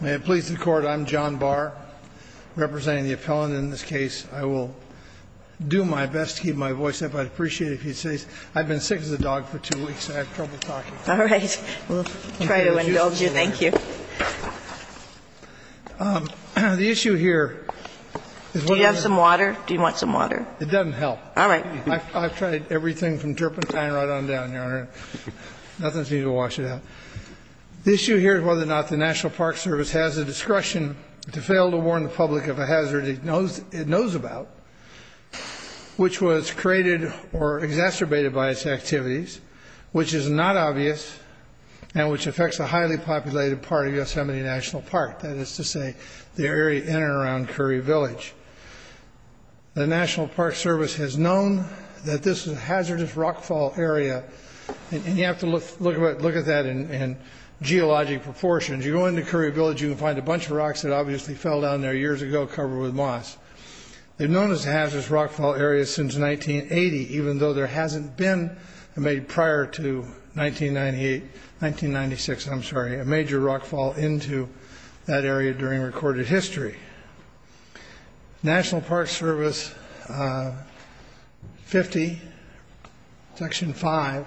May it please the Court, I'm John Barr, representing the appellant in this case. I will do my best to keep my voice up. I'd appreciate it if you'd say I've been sick as a dog for two weeks and I have trouble talking. All right, we'll try to indulge you, thank you. The issue here is whether or not the National Park Service has the discretion to fail to warn the public of a hazard it knows about, which was created or exacerbated by its activities, which is not obvious, and which affects a highly populated part of Yosemite National Park, that is to say, the area in and around Curry Village. The National Park Service has known that this is a hazardous rockfall area, and you have to look at that in geologic proportions. You go into Curry Village, you can find a bunch of rocks that obviously fell down there years ago covered with moss. They've known it's a hazardous rockfall area since 1980, even though there hasn't been, maybe prior to 1996, I'm sorry, a major rockfall into that area during recorded history. National Park Service 50, section 5,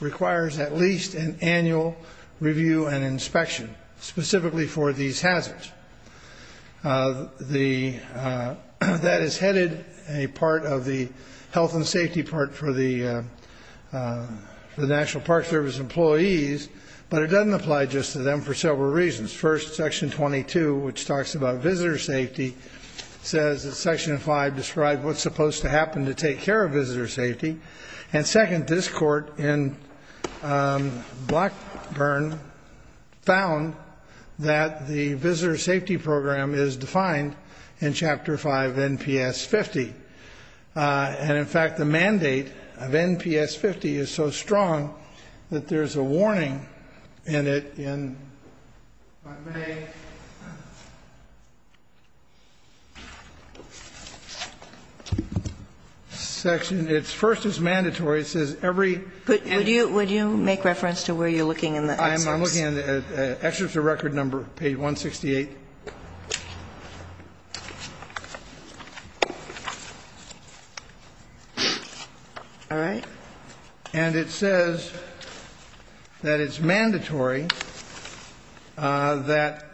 requires at least an annual review and inspection, specifically for these hazards. That is headed a part of the health and safety part for the National Park Service employees, but it doesn't apply just to them for several reasons. First, section 22, which talks about visitor safety, says that section 5 describes what's supposed to happen to take care of visitor safety. And second, this court in Blackburn found that the visitor safety program is defined in chapter 5, NPS 50. And in fact, the mandate of NPS 50 is so strong that there's a warning in it, in May. Section, it's first is mandatory, it says every- Would you make reference to where you're looking in the excerpts? I'm looking at the excerpts of record number, page 168. All right. And it says that it's mandatory that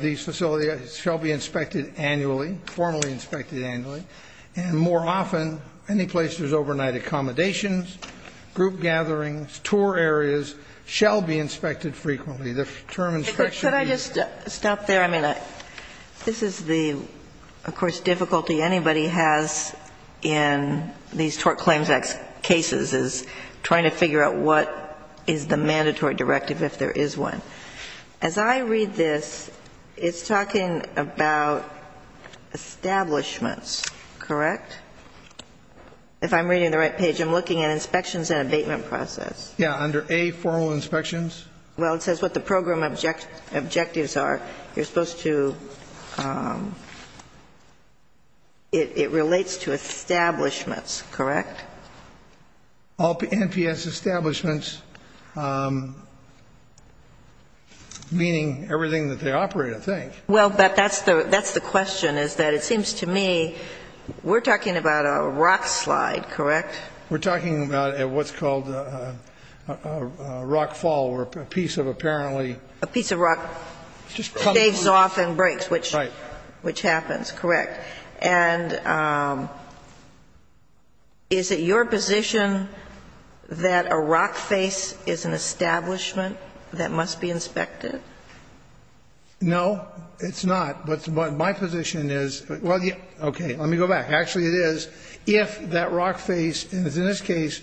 these facilities shall be inspected annually, formally inspected annually. And more often, any place there's overnight accommodations, group gatherings, tour areas, shall be inspected frequently. The term inspection- Could I just stop there? I mean, this is the, of course, difficulty anybody has in these tort claims cases is trying to figure out what is the mandatory directive if there is one. As I read this, it's talking about establishments, correct? If I'm reading the right page, I'm looking at inspections and abatement process. Yeah, under A, formal inspections. Well, it says what the program objectives are. You're supposed to, it relates to establishments, correct? All NPS establishments, meaning everything that they operate, I think. Well, but that's the question, is that it seems to me we're talking about a rock slide, correct? We're talking about what's called a rock fall, where a piece of apparently- A piece of rock staves off and breaks, which happens, correct. And is it your position that a rock face is an establishment that must be inspected? No, it's not. But my position is, well, okay, let me go back. Actually, it is, if that rock face, in this case,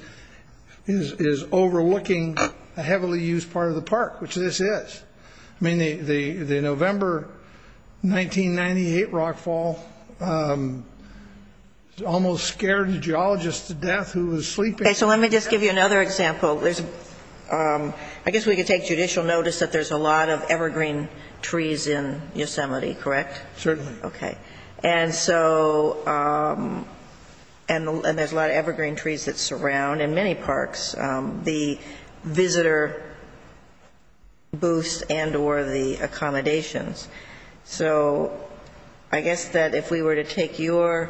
is overlooking a heavily used part of the park, which this is. I mean, the November 1998 rock fall almost scared the geologist to death who was sleeping. Okay, so let me just give you another example. I guess we could take judicial notice that there's a lot of evergreen trees in Yosemite, correct? Certainly. Okay, and so, and there's a lot of evergreen trees that surround, in many parks, the visitor booths and or the accommodations. So, I guess that if we were to take your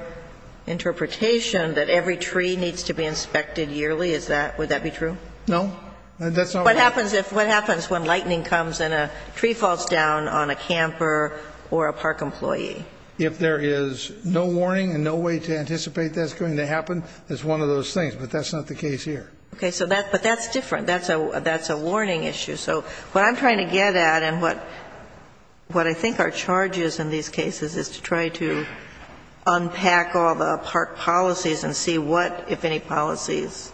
interpretation that every tree needs to be inspected yearly, would that be true? No, that's not right. What happens if, what happens when lightning comes and a tree falls down on a camper or a park employee? If there is no warning and no way to anticipate that's going to happen, it's one of those things. But that's not the case here. Okay, so that, but that's different. That's a, that's a warning issue. So, what I'm trying to get at and what, what I think are charges in these cases is to try to unpack all the park policies. And see what, if any, policies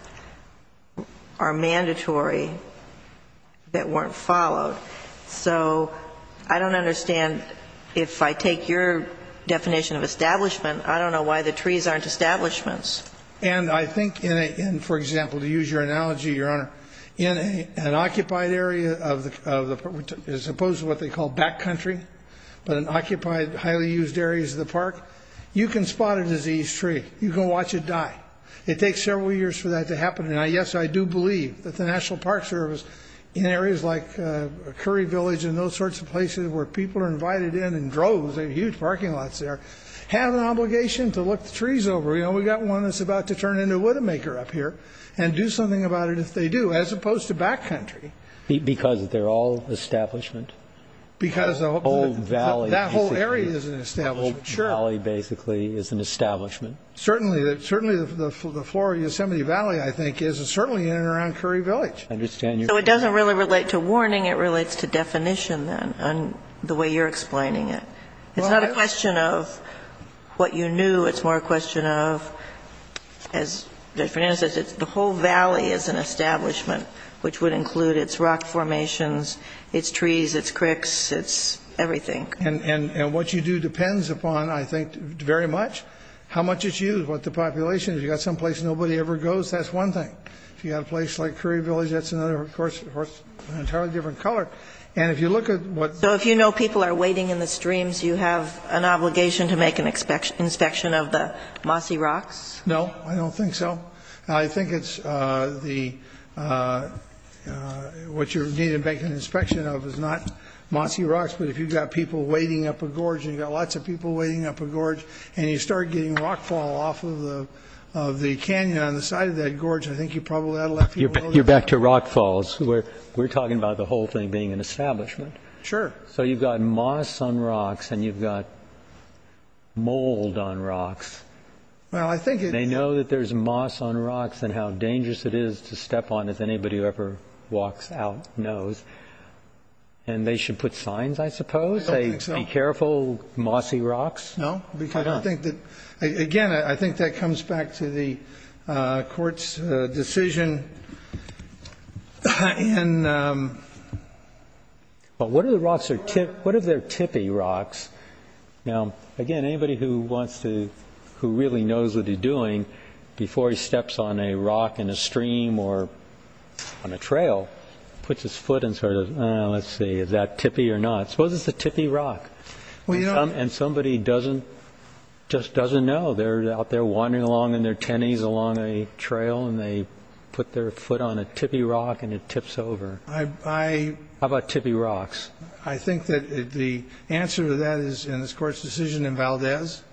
are mandatory that weren't followed. So, I don't understand, if I take your definition of establishment, I don't know why the trees aren't establishments. And I think in a, in, for example, to use your analogy, Your Honor, in a, an occupied area of the, of the, as opposed to what they call back country, but in occupied, highly used areas of the park, you can spot a diseased tree. You can watch it die. It takes several years for that to happen. And I, yes, I do believe that the National Park Service, in areas like Curry Village and those sorts of places where people are invited in, in droves, they have huge parking lots there, have an obligation to look the trees over. You know, we got one that's about to turn into Widowmaker up here. And do something about it if they do, as opposed to back country. Because they're all establishment? Because the whole, that whole area is an establishment. The valley, basically, is an establishment. Certainly, certainly the floor of Yosemite Valley, I think, is, is certainly in and around Curry Village. I understand your. So, it doesn't really relate to warning. It relates to definition, then, on the way you're explaining it. It's not a question of what you knew. It's more a question of, as Judge Fernandez says, it's the whole valley is an establishment, which would include its rock formations, its trees, its cricks, its everything. And, and, and what you do depends upon, I think, very much how much it's used, what the population is. You got some place nobody ever goes, that's one thing. If you got a place like Curry Village, that's another, of course, an entirely different color. And if you look at what. So, if you know people are waiting in the streams, you have an obligation to make an inspection of the mossy rocks? No, I don't think so. I think it's the, what you're needed to make an inspection of is not mossy rocks. But, if you've got people waiting up a gorge, and you've got lots of people waiting up a gorge, and you start getting rockfall off of the, of the canyon on the side of that gorge, I think you probably ought to let people know. You're back to rockfalls, where we're talking about the whole thing being an establishment. Sure. So, you've got moss on rocks, and you've got mold on rocks. Well, I think it. They know that there's moss on rocks, and how dangerous it is to step on, as anybody who ever walks out knows. And they should put signs, I suppose? I don't think so. Be careful, mossy rocks? No, because I don't think that, again, I think that comes back to the court's decision. Well, what if the rocks are, what if they're tippy rocks? Now, again, anybody who wants to, who really knows what he's doing, before he steps on a rock in a stream or on a trail, puts his foot in sort of, let's see, is that tippy or not? Suppose it's a tippy rock. Well, you know. And somebody doesn't, just doesn't know. They're out there wandering along in their tennies along a trail, and they put their foot on a tippy rock, and it tips over. I. How about tippy rocks? I think that the answer to that is in this Court's decision in Valdez,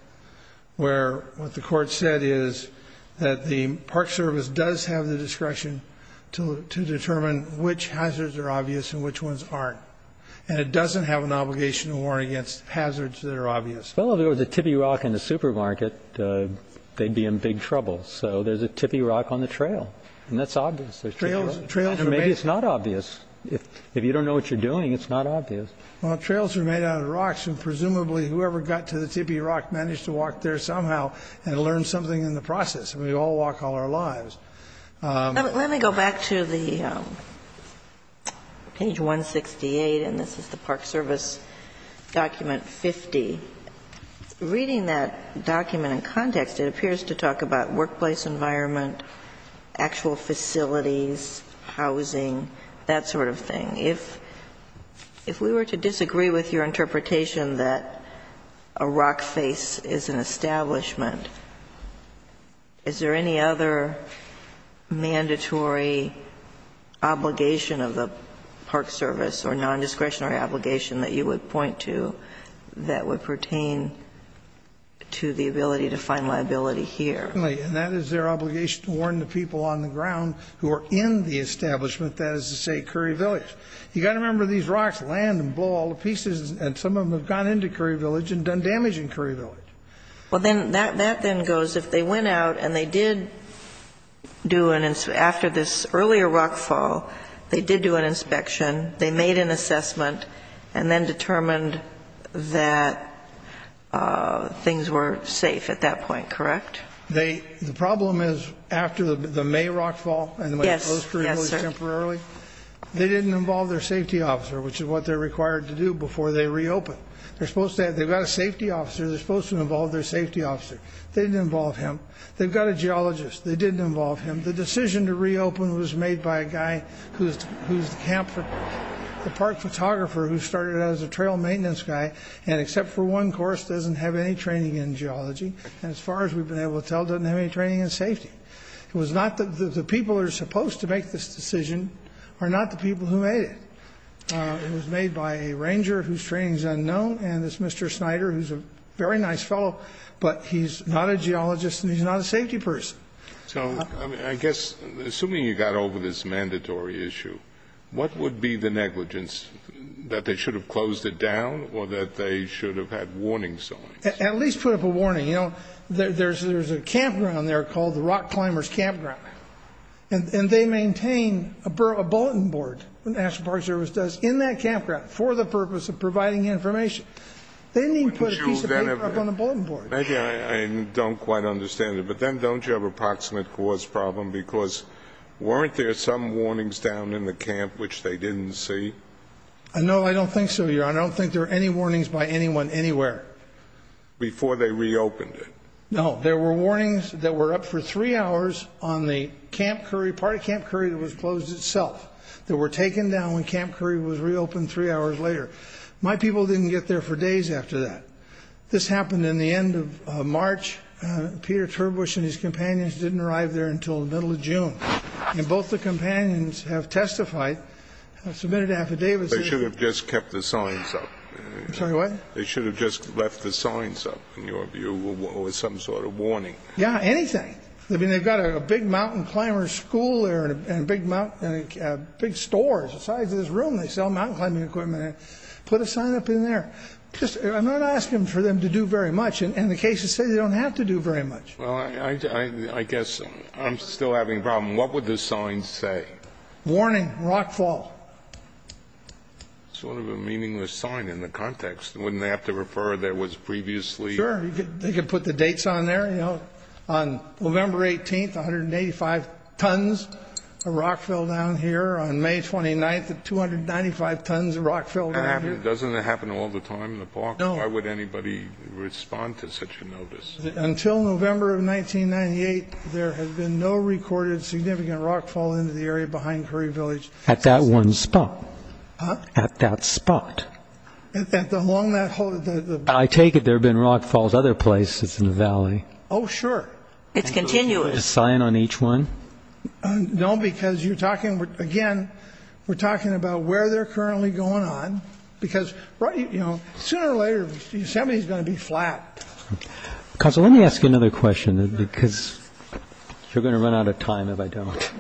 where what the Court said is that the Park Service does have the discretion to determine which hazards are obvious and which ones aren't. And it doesn't have an obligation to warn against hazards that are obvious. Well, if there was a tippy rock in the supermarket, they'd be in big trouble. So there's a tippy rock on the trail, and that's obvious. And maybe it's not obvious. If you don't know what you're doing, it's not obvious. Well, trails are made out of rocks, and presumably whoever got to the tippy rock managed to walk there somehow and learn something in the process. We all walk all our lives. Let me go back to the page 168, and this is the Park Service document 50. Reading that document in context, it appears to talk about workplace environment, actual facilities, housing, that sort of thing. If we were to disagree with your interpretation that a rock face is an establishment, is there any other mandatory obligation of the Park Service or nondiscretionary obligation that you would point to that would pertain to the ability to find liability here? Certainly. And that is their obligation to warn the people on the ground who are in the establishment, that is to say Curry Village. You've got to remember these rocks land and blow all the pieces, and some of them have gone into Curry Village and done damage in Curry Village. Well, then that then goes. If they went out and they did do an – after this earlier rock fall, they did do an inspection, they made an assessment, and then determined that things were safe at that point, correct? The problem is after the May rock fall and the way it closed for Curry Village temporarily, they didn't involve their safety officer, which is what they're required to do before they reopen. They've got a safety officer. They're supposed to involve their safety officer. They didn't involve him. They've got a geologist. They didn't involve him. The decision to reopen was made by a guy who's the park photographer who started out as a trail maintenance guy and except for one course doesn't have any training in geology. And as far as we've been able to tell, doesn't have any training in safety. It was not – the people who are supposed to make this decision are not the people who made it. It was made by a ranger whose training is unknown, and this Mr. Snyder, who's a very nice fellow, but he's not a geologist and he's not a safety person. So I guess assuming you got over this mandatory issue, what would be the negligence, that they should have closed it down or that they should have had warning signs? At least put up a warning. You know, there's a campground there called the Rock Climbers Campground, and they maintain a bulletin board, the National Park Service does, in that campground for the purpose of providing information. They didn't even put a piece of paper up on the bulletin board. Maybe I don't quite understand it, but then don't you have an approximate cause problem because weren't there some warnings down in the camp which they didn't see? No, I don't think so, Your Honor. I don't think there were any warnings by anyone anywhere. Before they reopened it? No, there were warnings that were up for three hours on the Camp Curry, part of Camp Curry that was closed itself, that were taken down when Camp Curry was reopened three hours later. My people didn't get there for days after that. This happened in the end of March. Peter Turbush and his companions didn't arrive there until the middle of June. And both the companions have testified, submitted affidavits. They should have just kept the signs up. I'm sorry, what? They should have just left the signs up, in your view, or some sort of warning. Yeah, anything. I mean, they've got a big mountain climber school there and big stores the size of this room. They sell mountain climbing equipment. Put a sign up in there. I'm not asking for them to do very much. And the cases say they don't have to do very much. Well, I guess I'm still having a problem. What would the signs say? Warning, rockfall. Sort of a meaningless sign in the context. Wouldn't they have to refer there was previously? Sure, they could put the dates on there. On November 18th, 185 tons of rock fell down here. On May 29th, 295 tons of rock fell down here. Doesn't that happen all the time in the park? No. Why would anybody respond to such a notice? Until November of 1998, there had been no recorded significant rockfall into the area behind Curry Village. At that one spot. Huh? At that spot. Along that whole? I take it there have been rockfalls other places in the valley. Oh, sure. It's continuous. A sign on each one? No, because you're talking, again, we're talking about where they're currently going on. Because, you know, sooner or later, Yosemite is going to be flat. Counsel, let me ask you another question, because you're going to run out of time if I don't.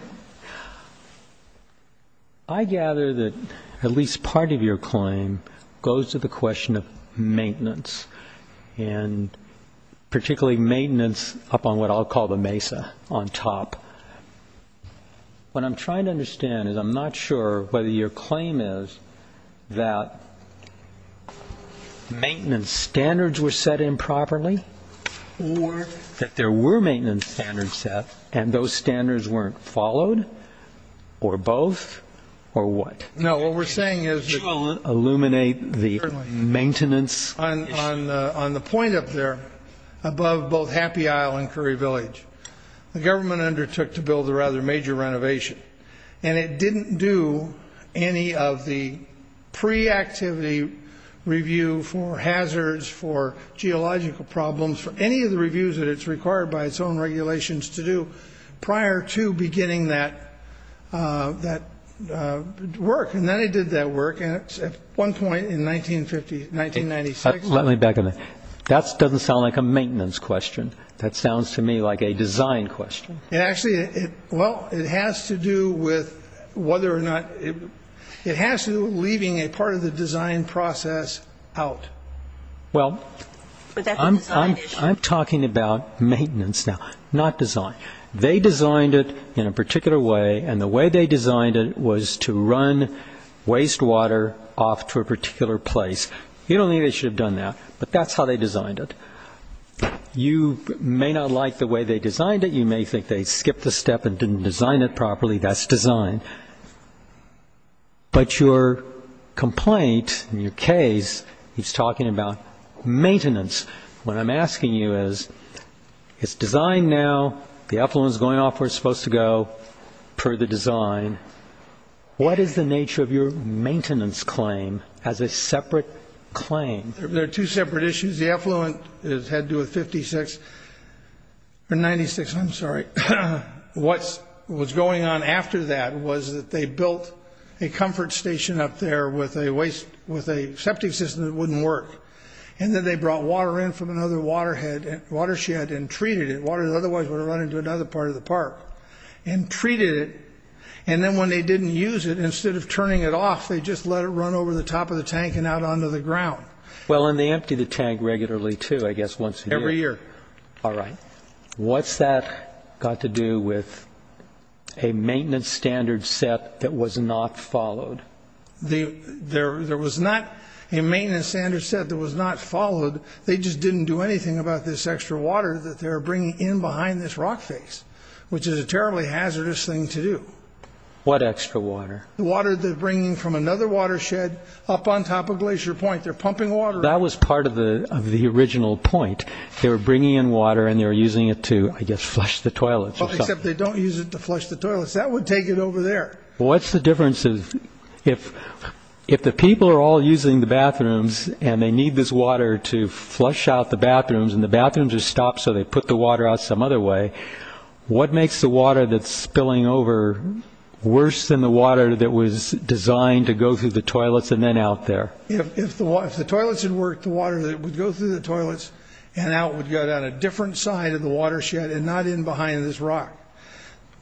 I gather that at least part of your claim goes to the question of maintenance, and particularly maintenance up on what I'll call the mesa on top. What I'm trying to understand is I'm not sure whether your claim is that maintenance standards were set improperly, that there were maintenance standards set, and those standards weren't followed, or both, or what? No, what we're saying is that on the point up there above both Happy Isle and Curry Village, the government undertook to build a rather major renovation, and it didn't do any of the pre-activity review for hazards, for geological problems, for any of the reviews that it's required by its own regulations to do prior to beginning that work. And then it did that work at one point in 1950, 1996. Let me back on that. That doesn't sound like a maintenance question. That sounds to me like a design question. It actually, well, it has to do with whether or not, it has to do with leaving a part of the design process out. Well, I'm talking about maintenance now, not design. They designed it in a particular way, and the way they designed it was to run wastewater off to a particular place. You don't think they should have done that, but that's how they designed it. You may not like the way they designed it. You may think they skipped a step and didn't design it properly. That's design. But your complaint in your case is talking about maintenance. What I'm asking you is, it's designed now. The effluent is going off where it's supposed to go per the design. What is the nature of your maintenance claim as a separate claim? There are two separate issues. The effluent has had to do with 1956. I'm sorry. What was going on after that was that they built a comfort station up there with a septic system that wouldn't work, and then they brought water in from another watershed and treated it. Water that otherwise would have run into another part of the park and treated it. And then when they didn't use it, instead of turning it off, they just let it run over the top of the tank and out onto the ground. Well, and they empty the tank regularly too, I guess once a year. Every year. All right. What's that got to do with a maintenance standard set that was not followed? There was not a maintenance standard set that was not followed. They just didn't do anything about this extra water that they were bringing in behind this rock face, which is a terribly hazardous thing to do. What extra water? Water they're bringing from another watershed up on top of Glacier Point. They're pumping water. That was part of the original point. They were bringing in water and they were using it to, I guess, flush the toilets. Except they don't use it to flush the toilets. That would take it over there. What's the difference if the people are all using the bathrooms and they need this water to flush out the bathrooms and the bathrooms are stopped so they put the water out some other way, what makes the water that's spilling over worse than the water that was designed to go through the toilets and then out there? If the toilets had worked, the water would go through the toilets and out would go down a different side of the watershed and not in behind this rock.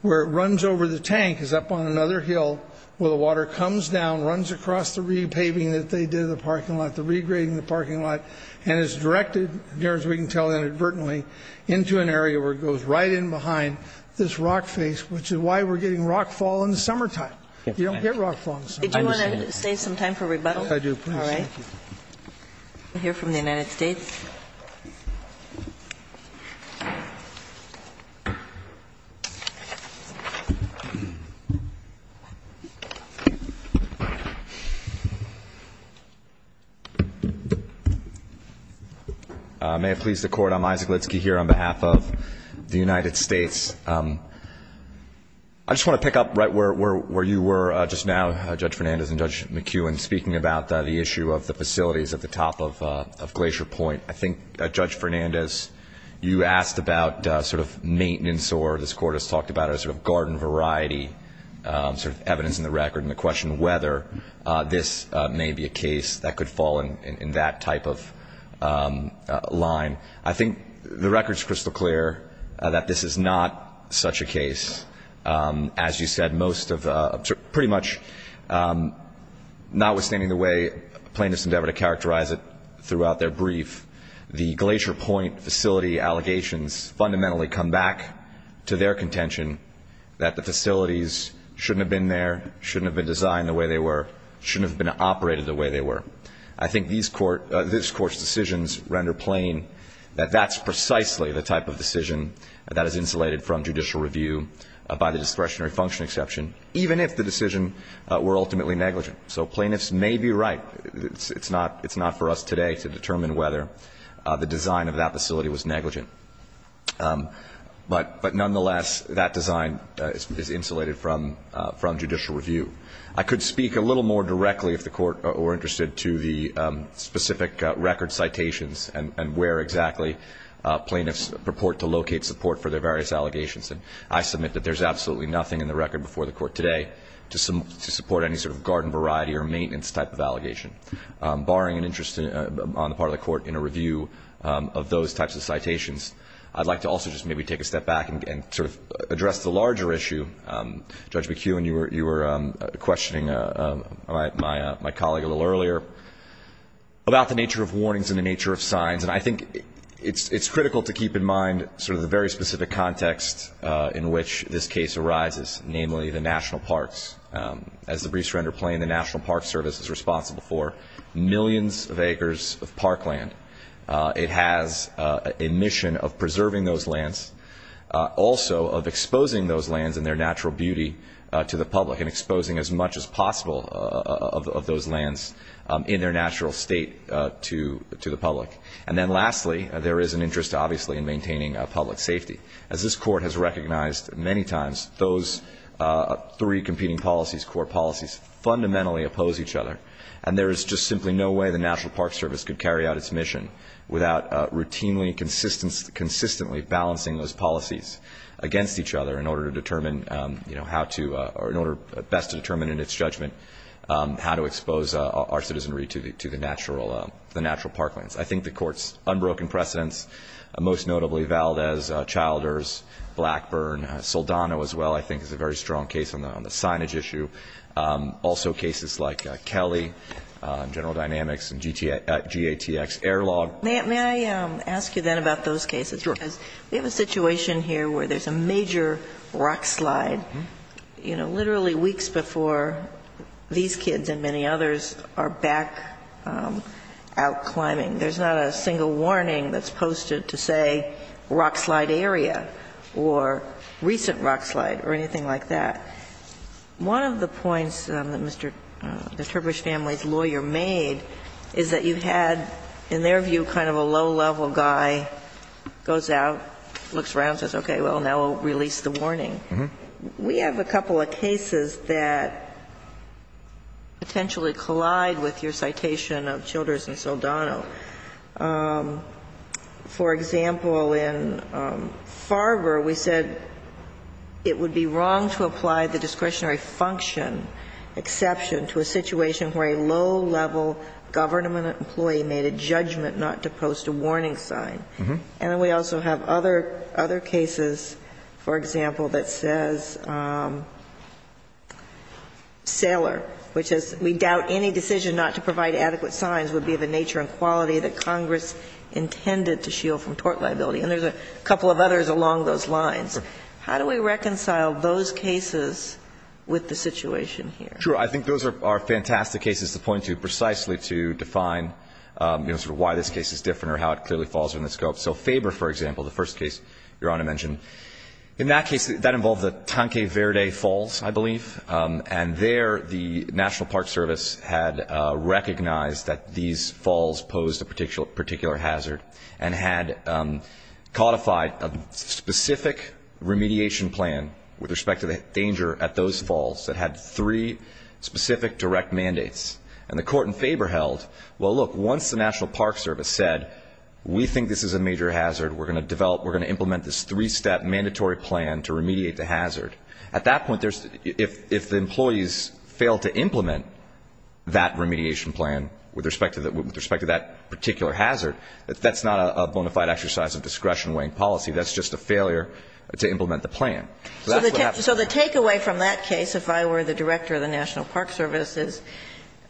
Where it runs over the tank is up on another hill where the water comes down, runs across the repaving that they did in the parking lot, the regrading in the parking lot, and is directed, as we can tell inadvertently, into an area where it goes right in behind this rock face, which is why we're getting rock fall in the summertime. You don't get rock fall in the summertime. Okay. Do you want to save some time for rebuttal? Yes, I do. Please. All right. We'll hear from the United States. May it please the Court, I'm Isaac Litsky here on behalf of the United States. I just want to pick up right where you were just now, Judge Fernandez and Judge McEwen, speaking about the issue of the facilities at the top of Glacier Point. I think, Judge Fernandez, you asked about sort of maintenance or this Court has talked about a sort of garden variety sort of evidence in the record and the question whether this may be a case that could fall in that type of line. I think the record is crystal clear that this is not such a case. As you said, pretty much notwithstanding the way plaintiffs endeavor to characterize it throughout their brief, the Glacier Point facility allegations fundamentally come back to their contention that the facilities shouldn't have been there, shouldn't have been designed the way they were, shouldn't have been operated the way they were. I think this Court's decisions render plain that that's precisely the type of decision that is insulated from judicial review by the discretionary function exception, even if the decision were ultimately negligent. So plaintiffs may be right. It's not for us today to determine whether the design of that facility was negligent. But nonetheless, that design is insulated from judicial review. I could speak a little more directly if the Court were interested to the specific record citations and where exactly plaintiffs purport to locate support for their various allegations. And I submit that there's absolutely nothing in the record before the Court today to support any sort of garden variety or maintenance type of allegation. Barring an interest on the part of the Court in a review of those types of citations, I'd like to also just maybe take a step back and sort of address the larger issue. Judge McEwen, you were questioning my colleague a little earlier about the nature of warnings and the nature of signs. And I think it's critical to keep in mind sort of the very specific context in which this case arises, namely the national parks. As the briefs render plain, the National Park Service is responsible for millions of acres of parkland. It has a mission of preserving those lands, also of exposing those lands and their natural beauty to the public and exposing as much as possible of those lands in their natural state to the public. And then lastly, there is an interest, obviously, in maintaining public safety. As this Court has recognized many times, those three competing policies, court policies, fundamentally oppose each other. And there is just simply no way the National Park Service could carry out its mission without routinely, consistently balancing those policies against each other in order to determine how to or in order best to determine in its judgment how to expose our citizenry to the natural parklands. I think the Court's unbroken precedents, most notably Valdez, Childers, Blackburn, Soldano as well I think is a very strong case on the signage issue. Also cases like Kelly, General Dynamics, and GATX Airlog. May I ask you then about those cases? Sure. Because we have a situation here where there's a major rock slide, you know, literally weeks before these kids and many others are back out climbing. There's not a single warning that's posted to say rock slide area or recent rock slide or anything like that. One of the points that Mr. Turbush's family's lawyer made is that you had, in their view, kind of a low-level guy, goes out, looks around and says, okay, well, now we'll release the warning. We have a couple of cases that potentially collide with your citation of Childers and Soldano. For example, in Farber, we said it would be wrong to apply the discretionary function exception to a situation where a low-level government employee made a judgment not to post a warning sign. And then we also have other cases, for example, that says Sailor, which is we doubt any decision not to provide adequate signs would be of the nature and quality that Congress intended to shield from tort liability. And there's a couple of others along those lines. How do we reconcile those cases with the situation here? Sure. I think those are fantastic cases to point to precisely to define, you know, sort of why this case is different or how it clearly falls within the scope. So Faber, for example, the first case Your Honor mentioned, in that case, that involved the National Park Service had recognized that these falls posed a particular hazard and had codified a specific remediation plan with respect to the danger at those falls that had three specific direct mandates. And the court in Faber held, well, look, once the National Park Service said, we think this is a major hazard, we're going to develop, we're going to implement this three-step mandatory plan to remediate the hazard. At that point, if the employees fail to implement that remediation plan with respect to that particular hazard, that's not a bona fide exercise of discretion-weighing policy. That's just a failure to implement the plan. So that's what happened. So the takeaway from that case, if I were the director of the National Park Service, is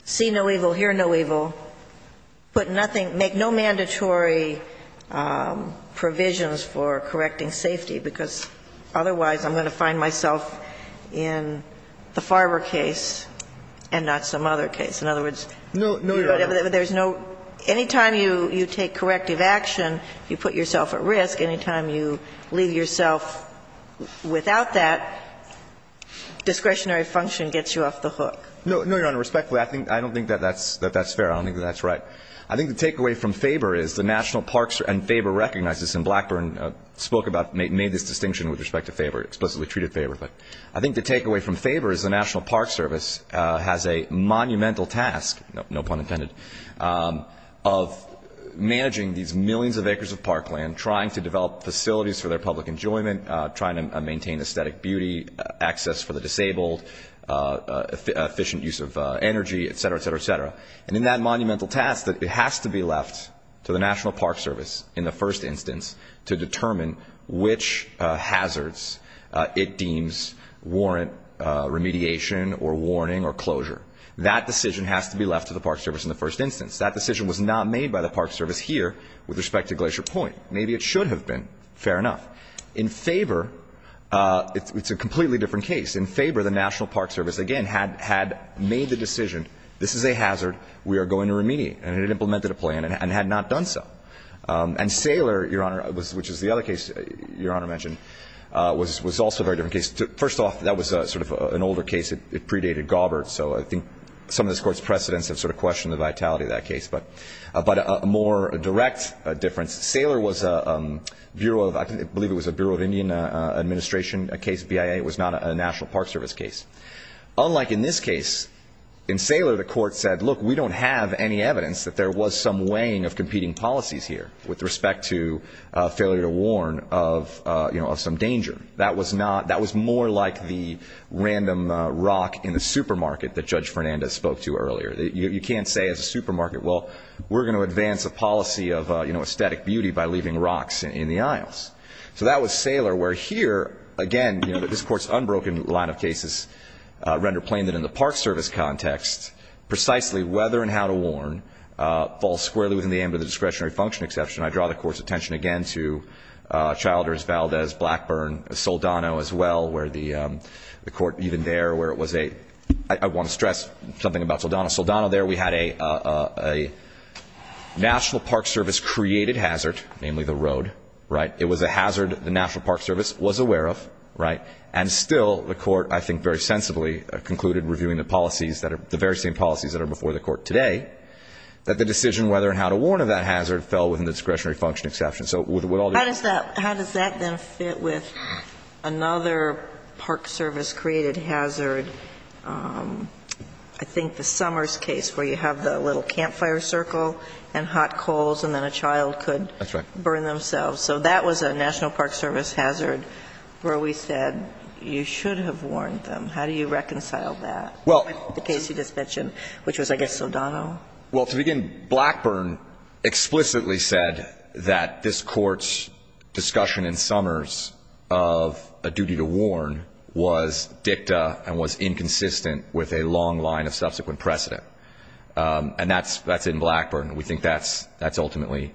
see no evil, hear no evil, put nothing make no mandatory provisions for correcting safety, because otherwise I'm going to find myself in the Faber case and not some other case. In other words, there's no any time you take corrective action, you put yourself at risk, any time you leave yourself without that, discretionary function gets you off the hook. No, Your Honor. Respectfully, I don't think that that's fair. I don't think that's right. I think the takeaway from Faber is the National Park Service, and Faber recognizes, and Blackburn spoke about, made this distinction with respect to Faber, explicitly treated Faber. But I think the takeaway from Faber is the National Park Service has a monumental task, no pun intended, of managing these millions of acres of parkland, trying to develop facilities for their public enjoyment, trying to maintain aesthetic beauty, access for the disabled, efficient use of energy, et cetera, et cetera, et cetera. And in that monumental task, it has to be left to the National Park Service in the first instance to determine which hazards it deems warrant remediation or warning or closure. That decision has to be left to the Park Service in the first instance. That decision was not made by the Park Service here with respect to Glacier Point. Maybe it should have been. Fair enough. In Faber, it's a completely different case. In Faber, the National Park Service, again, had made the decision, this is a hazard, we are going to remediate. And it implemented a plan and had not done so. And Saylor, Your Honor, which is the other case Your Honor mentioned, was also a very different case. First off, that was sort of an older case. It predated Gaubert. So I think some of this Court's precedents have sort of questioned the vitality of that case. But a more direct difference, Saylor was a Bureau of, I believe it was a Bureau of Indian Administration case, BIA. It was not a National Park Service case. Unlike in this case, in Saylor the Court said, look, we don't have any evidence that there was some weighing of competing policies here with respect to failure to warn of some danger. That was more like the random rock in the supermarket that Judge Fernandez spoke to earlier. You can't say as a supermarket, well, we're going to advance a policy of aesthetic beauty by leaving rocks in the aisles. So that was Saylor, where here, again, you know, this Court's unbroken line of cases render plain that in the Park Service context, precisely whether and how to warn falls squarely within the aim of the discretionary function exception. I draw the Court's attention again to Childers, Valdez, Blackburn, Soldano as well, where the Court even there where it was a I want to stress something about Soldano. Soldano there, we had a National Park Service created hazard, namely the road, right? It was a hazard the National Park Service was aware of, right? And still the Court, I think very sensibly, concluded reviewing the policies, the very same policies that are before the Court today, that the decision whether and how to warn of that hazard fell within the discretionary function exception. So with all due respect. How does that then fit with another Park Service created hazard? I think the Summers case where you have the little campfire circle and hot coals and then a child could burn themselves. So that was a National Park Service hazard where we said you should have warned them. How do you reconcile that with the case you just mentioned, which was, I guess, Soldano? Well, to begin, Blackburn explicitly said that this Court's discussion in Summers of a duty to warn was dicta and was inconsistent with a long line of subsequent precedent. And that's in Blackburn. We think that's ultimately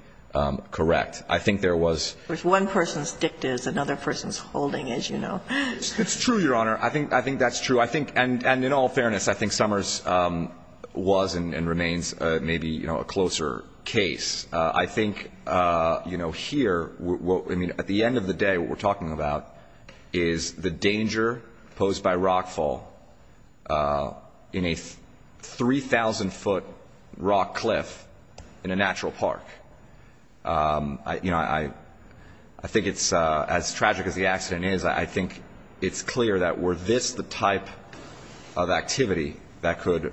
correct. I think there was. One person's dicta is another person's holding, as you know. It's true, Your Honor. I think that's true. And in all fairness, I think Summers was and remains maybe a closer case. I think, you know, here, at the end of the day, what we're talking about is the danger posed by rockfall in a 3,000-foot rock cliff in a natural park. You know, I think it's as tragic as the accident is, I think it's clear that were this the type of activity that could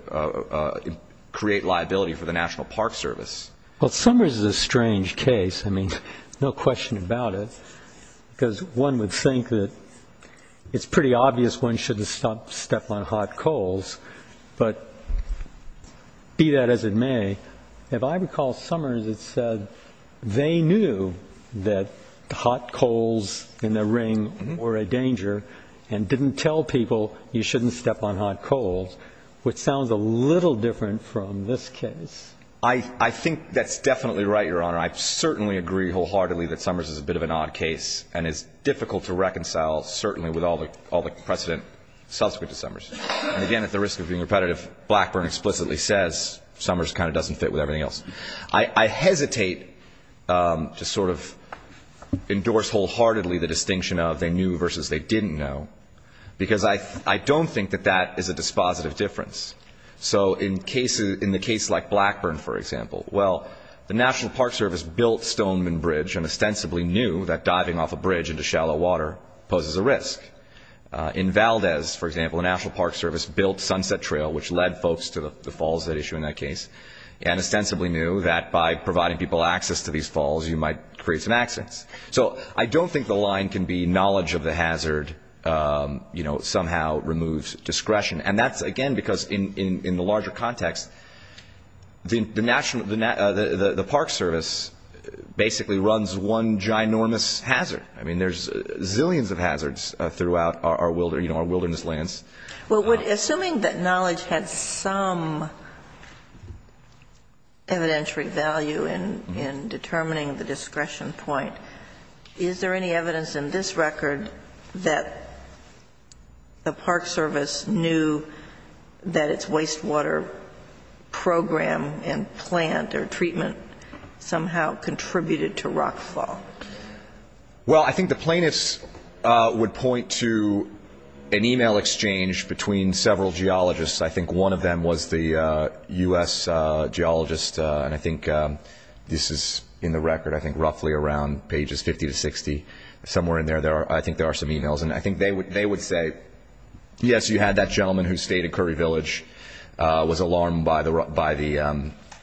create liability for the National Park Service? Well, Summers is a strange case. I mean, no question about it, because one would think that it's pretty obvious one shouldn't step on hot coals, but be that as it may, if I recall Summers had said they knew that hot coals in the ring were a danger and didn't tell people you shouldn't step on hot coals, which sounds a little different from this case. I think that's definitely right, Your Honor. I certainly agree wholeheartedly that Summers is a bit of an odd case and is difficult to reconcile certainly with all the precedent subsequent to Summers. And again, at the risk of being repetitive, Blackburn explicitly says Summers kind of doesn't fit with everything else. I hesitate to sort of endorse wholeheartedly the distinction of they knew versus they didn't know, because I don't think that that is a dispositive difference. So in the case like Blackburn, for example, well, the National Park Service built Stoneman Bridge and ostensibly knew that diving off a bridge into shallow water poses a risk. In Valdez, for example, the National Park Service built Sunset Trail, which led folks to the falls that issue in that case and ostensibly knew that by providing people access to these falls you might create some accidents. So I don't think the line can be knowledge of the hazard somehow removes discretion. And that's, again, because in the larger context, the Park Service basically runs one ginormous hazard. I mean, there's zillions of hazards throughout our wilderness lands. Well, assuming that knowledge had some evidentiary value in determining the discretion point, is there any evidence in this record that the Park Service knew that its wastewater program and plant or treatment somehow contributed to rockfall? Well, I think the plaintiffs would point to an e-mail exchange between several geologists. I think one of them was the U.S. geologist, and I think this is in the record. I think roughly around pages 50 to 60, somewhere in there, I think there are some e-mails. And I think they would say, yes, you had that gentleman who stayed at Curry Village, was alarmed by the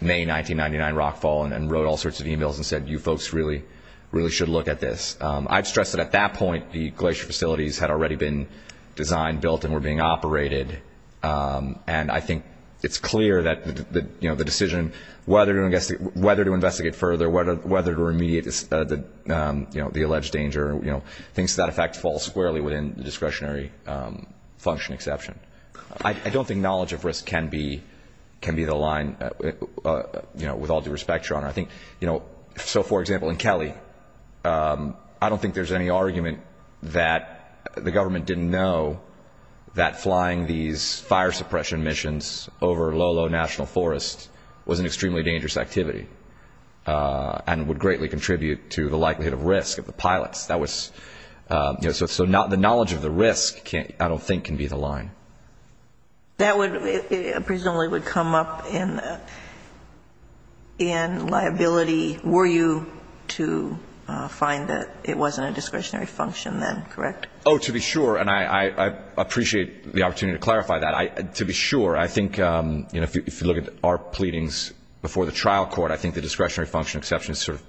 May 1999 rockfall and wrote all sorts of e-mails and said you folks really, really should look at this. I'd stress that at that point the glacier facilities had already been designed, built, and were being operated. And I think it's clear that the decision whether to investigate further, whether to remediate the alleged danger, things to that effect fall squarely within the discretionary function exception. I don't think knowledge of risk can be the line, with all due respect, Your Honor. I think, you know, so, for example, in Kelly, I don't think there's any argument that the government didn't know that flying these fire suppression missions over low, low national forests was an extremely dangerous activity and would greatly contribute to the likelihood of risk of the pilots. So the knowledge of the risk, I don't think, can be the line. That presumably would come up in liability. Were you to find that it wasn't a discretionary function then, correct? Oh, to be sure, and I appreciate the opportunity to clarify that. To be sure, I think, you know, if you look at our pleadings before the trial court, I think the discretionary function exception is sort of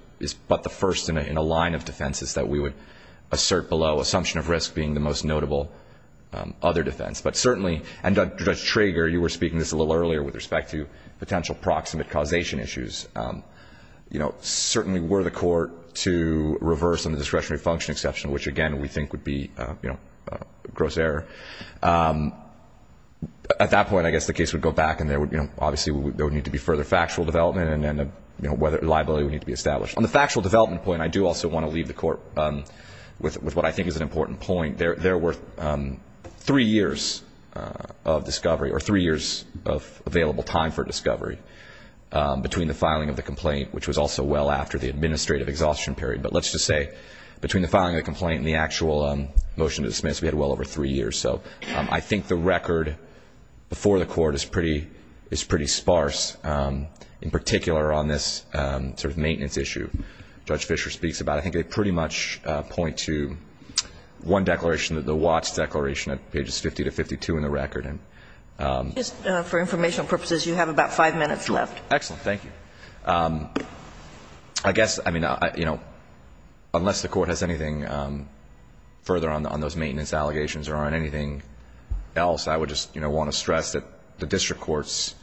but the first in a line of defenses that we would assert below, you know, assumption of risk being the most notable other defense. But certainly, and Judge Trager, you were speaking to this a little earlier with respect to potential proximate causation issues. You know, certainly were the court to reverse on the discretionary function exception, which, again, we think would be, you know, a gross error. At that point, I guess the case would go back and there would, you know, obviously there would need to be further factual development and liability would need to be established. On the factual development point, I do also want to leave the court with what I think is an important point. There were three years of discovery or three years of available time for discovery between the filing of the complaint, which was also well after the administrative exhaustion period. But let's just say between the filing of the complaint and the actual motion to dismiss, we had well over three years. So I think the record before the court is pretty sparse, in particular on this sort of maintenance issue. Judge Fischer speaks about it. I think they pretty much point to one declaration, the Watts Declaration, at pages 50 to 52 in the record. For informational purposes, you have about five minutes left. Thank you. I guess, I mean, you know, unless the court has anything further on those maintenance allegations or on anything else, I would just, you know, want to stress that the district court's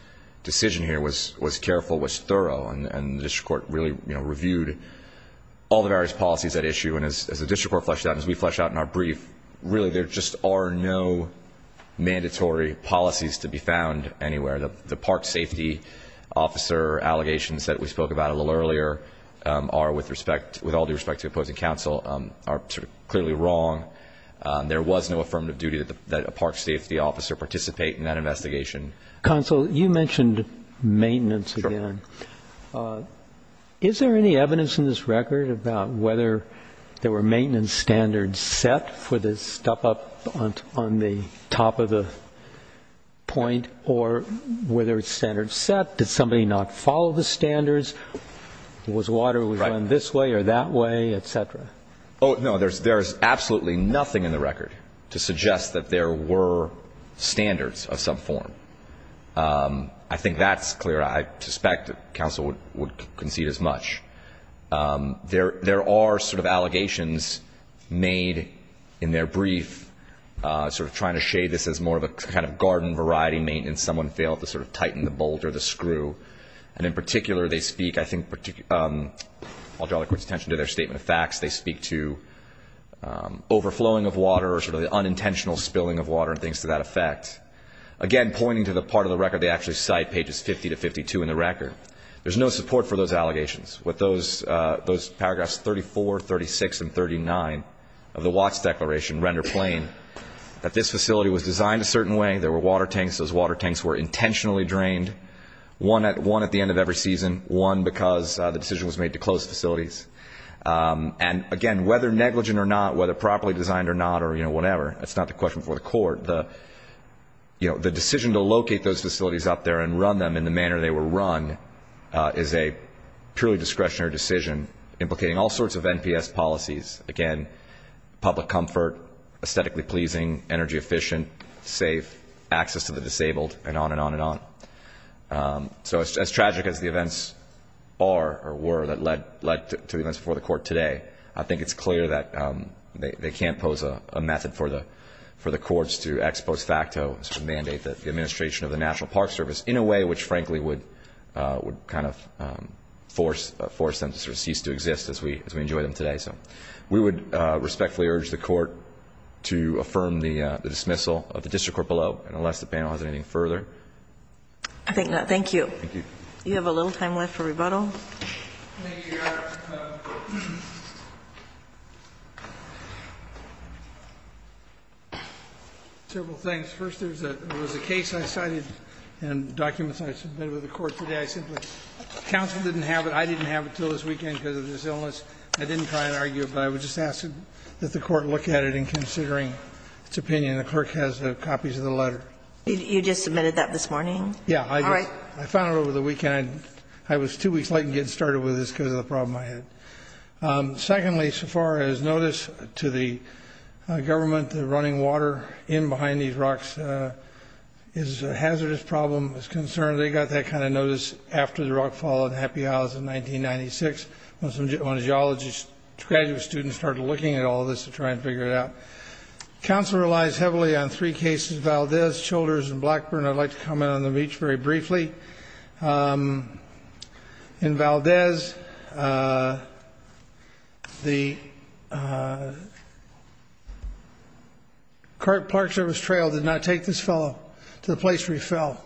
decision here was careful, was thorough, and the district court really, you know, reviewed all the various policies at issue. And as the district court fleshed out and as we fleshed out in our brief, really, there just are no mandatory policies to be found anywhere. The park safety officer allegations that we spoke about a little earlier are, with respect, with all due respect to opposing counsel, are clearly wrong. There was no affirmative duty that a park safety officer participate in that investigation. Counsel, you mentioned maintenance again. Sure. Is there any evidence in this record about whether there were maintenance standards set for this step up on the top of the point, or were there standards set? Did somebody not follow the standards? Was water run this way or that way, et cetera? Oh, no, there's absolutely nothing in the record to suggest that there were standards of some form. I think that's clear. I suspect counsel would concede as much. There are sort of allegations made in their brief, sort of trying to shade this as more of a kind of garden variety maintenance. Someone failed to sort of tighten the bolt or the screw. And in particular, they speak, I think, I'll draw the court's attention to their statement of facts. They speak to overflowing of water or sort of the unintentional spilling of water and things to that effect. Again, pointing to the part of the record they actually cite, pages 50 to 52 in the record. There's no support for those allegations. With those paragraphs 34, 36, and 39 of the Watts Declaration render plain that this facility was designed a certain way. There were water tanks. Those water tanks were intentionally drained, one at the end of every season, one because the decision was made to close facilities. And, again, whether negligent or not, whether properly designed or not, or whatever, that's not the question for the court. The decision to locate those facilities up there and run them in the manner they were run is a purely discretionary decision, implicating all sorts of NPS policies. Again, public comfort, aesthetically pleasing, energy efficient, safe, access to the disabled, and on and on and on. So as tragic as the events are or were that led to the events before the court today, I think it's clear that they can't pose a method for the courts to ex post facto sort of mandate the administration of the National Park Service in a way which, frankly, would kind of force them to sort of cease to exist as we enjoy them today. So we would respectfully urge the court to affirm the dismissal of the district court below, unless the panel has anything further. You have a little time left for rebuttal. Thank you, Your Honor. Several things. First, there was a case I cited and documents I submitted to the court today. I simply – counsel didn't have it. I didn't have it until this weekend because of this illness. I didn't try and argue it, but I would just ask that the court look at it in considering its opinion. The clerk has copies of the letter. You just submitted that this morning? Yeah. All right. I found it over the weekend. I was two weeks late in getting started with this because of the problem I had. Secondly, so far as notice to the government, the running water in behind these rocks is a hazardous problem. It's a concern. They got that kind of notice after the rock fall in Happy Isles in 1996 when some geologists – graduate students started looking at all this to try and figure it out. Counsel relies heavily on three cases, Valdez, Childers, and Blackburn. I'd like to comment on them each very briefly. In Valdez, the Park Service trail did not take this fellow to the place where he fell.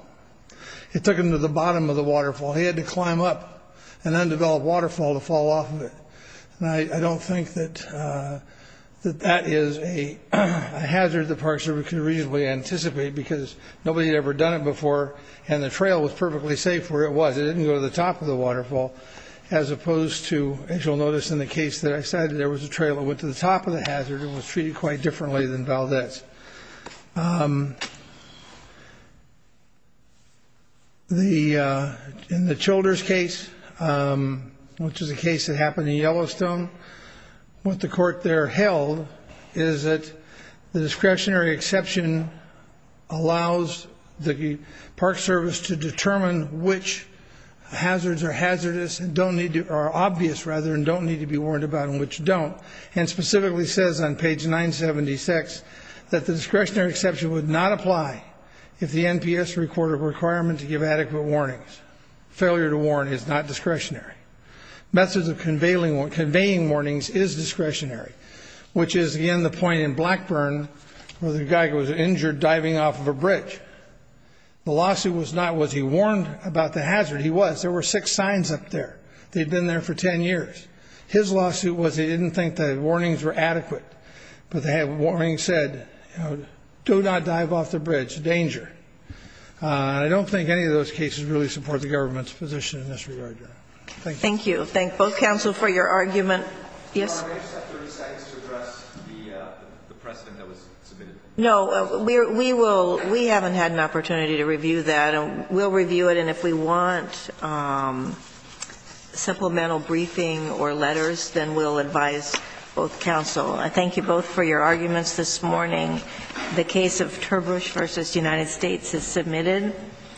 It took him to the bottom of the waterfall. He had to climb up an undeveloped waterfall to fall off of it. I don't think that that is a hazard the Park Service can reasonably anticipate because nobody had ever done it before and the trail was perfectly safe where it was. It didn't go to the top of the waterfall as opposed to, as you'll notice in the case that I cited, there was a trail that went to the top of the hazard and was treated quite differently than Valdez. In the Childers case, which is a case that happened in Yellowstone, what the court there held is that the discretionary exception allows the Park Service to determine which hazards are hazardous and don't need to – are obvious, rather, and don't need to be warned about and which don't, and specifically says on page 976 that the discretionary exception would not apply if the NPS recorded a requirement to give adequate warnings. Failure to warn is not discretionary. Methods of conveying warnings is discretionary, which is, again, the point in Blackburn where the guy was injured diving off of a bridge. The lawsuit was not, was he warned about the hazard? He was. There were six signs up there. They'd been there for 10 years. His lawsuit was he didn't think the warnings were adequate, but the warning said, do not dive off the bridge, danger. I don't think any of those cases really support the government's position in this regard. Thank you. Thank you. Thank both counsel for your argument. Yes? Can I just have 30 seconds to address the precedent that was submitted? No. We will – we haven't had an opportunity to review that. We'll review it, and if we want supplemental briefing or letters, then we'll advise both counsel. I thank you both for your arguments this morning. The case of Turbush v. United States is submitted.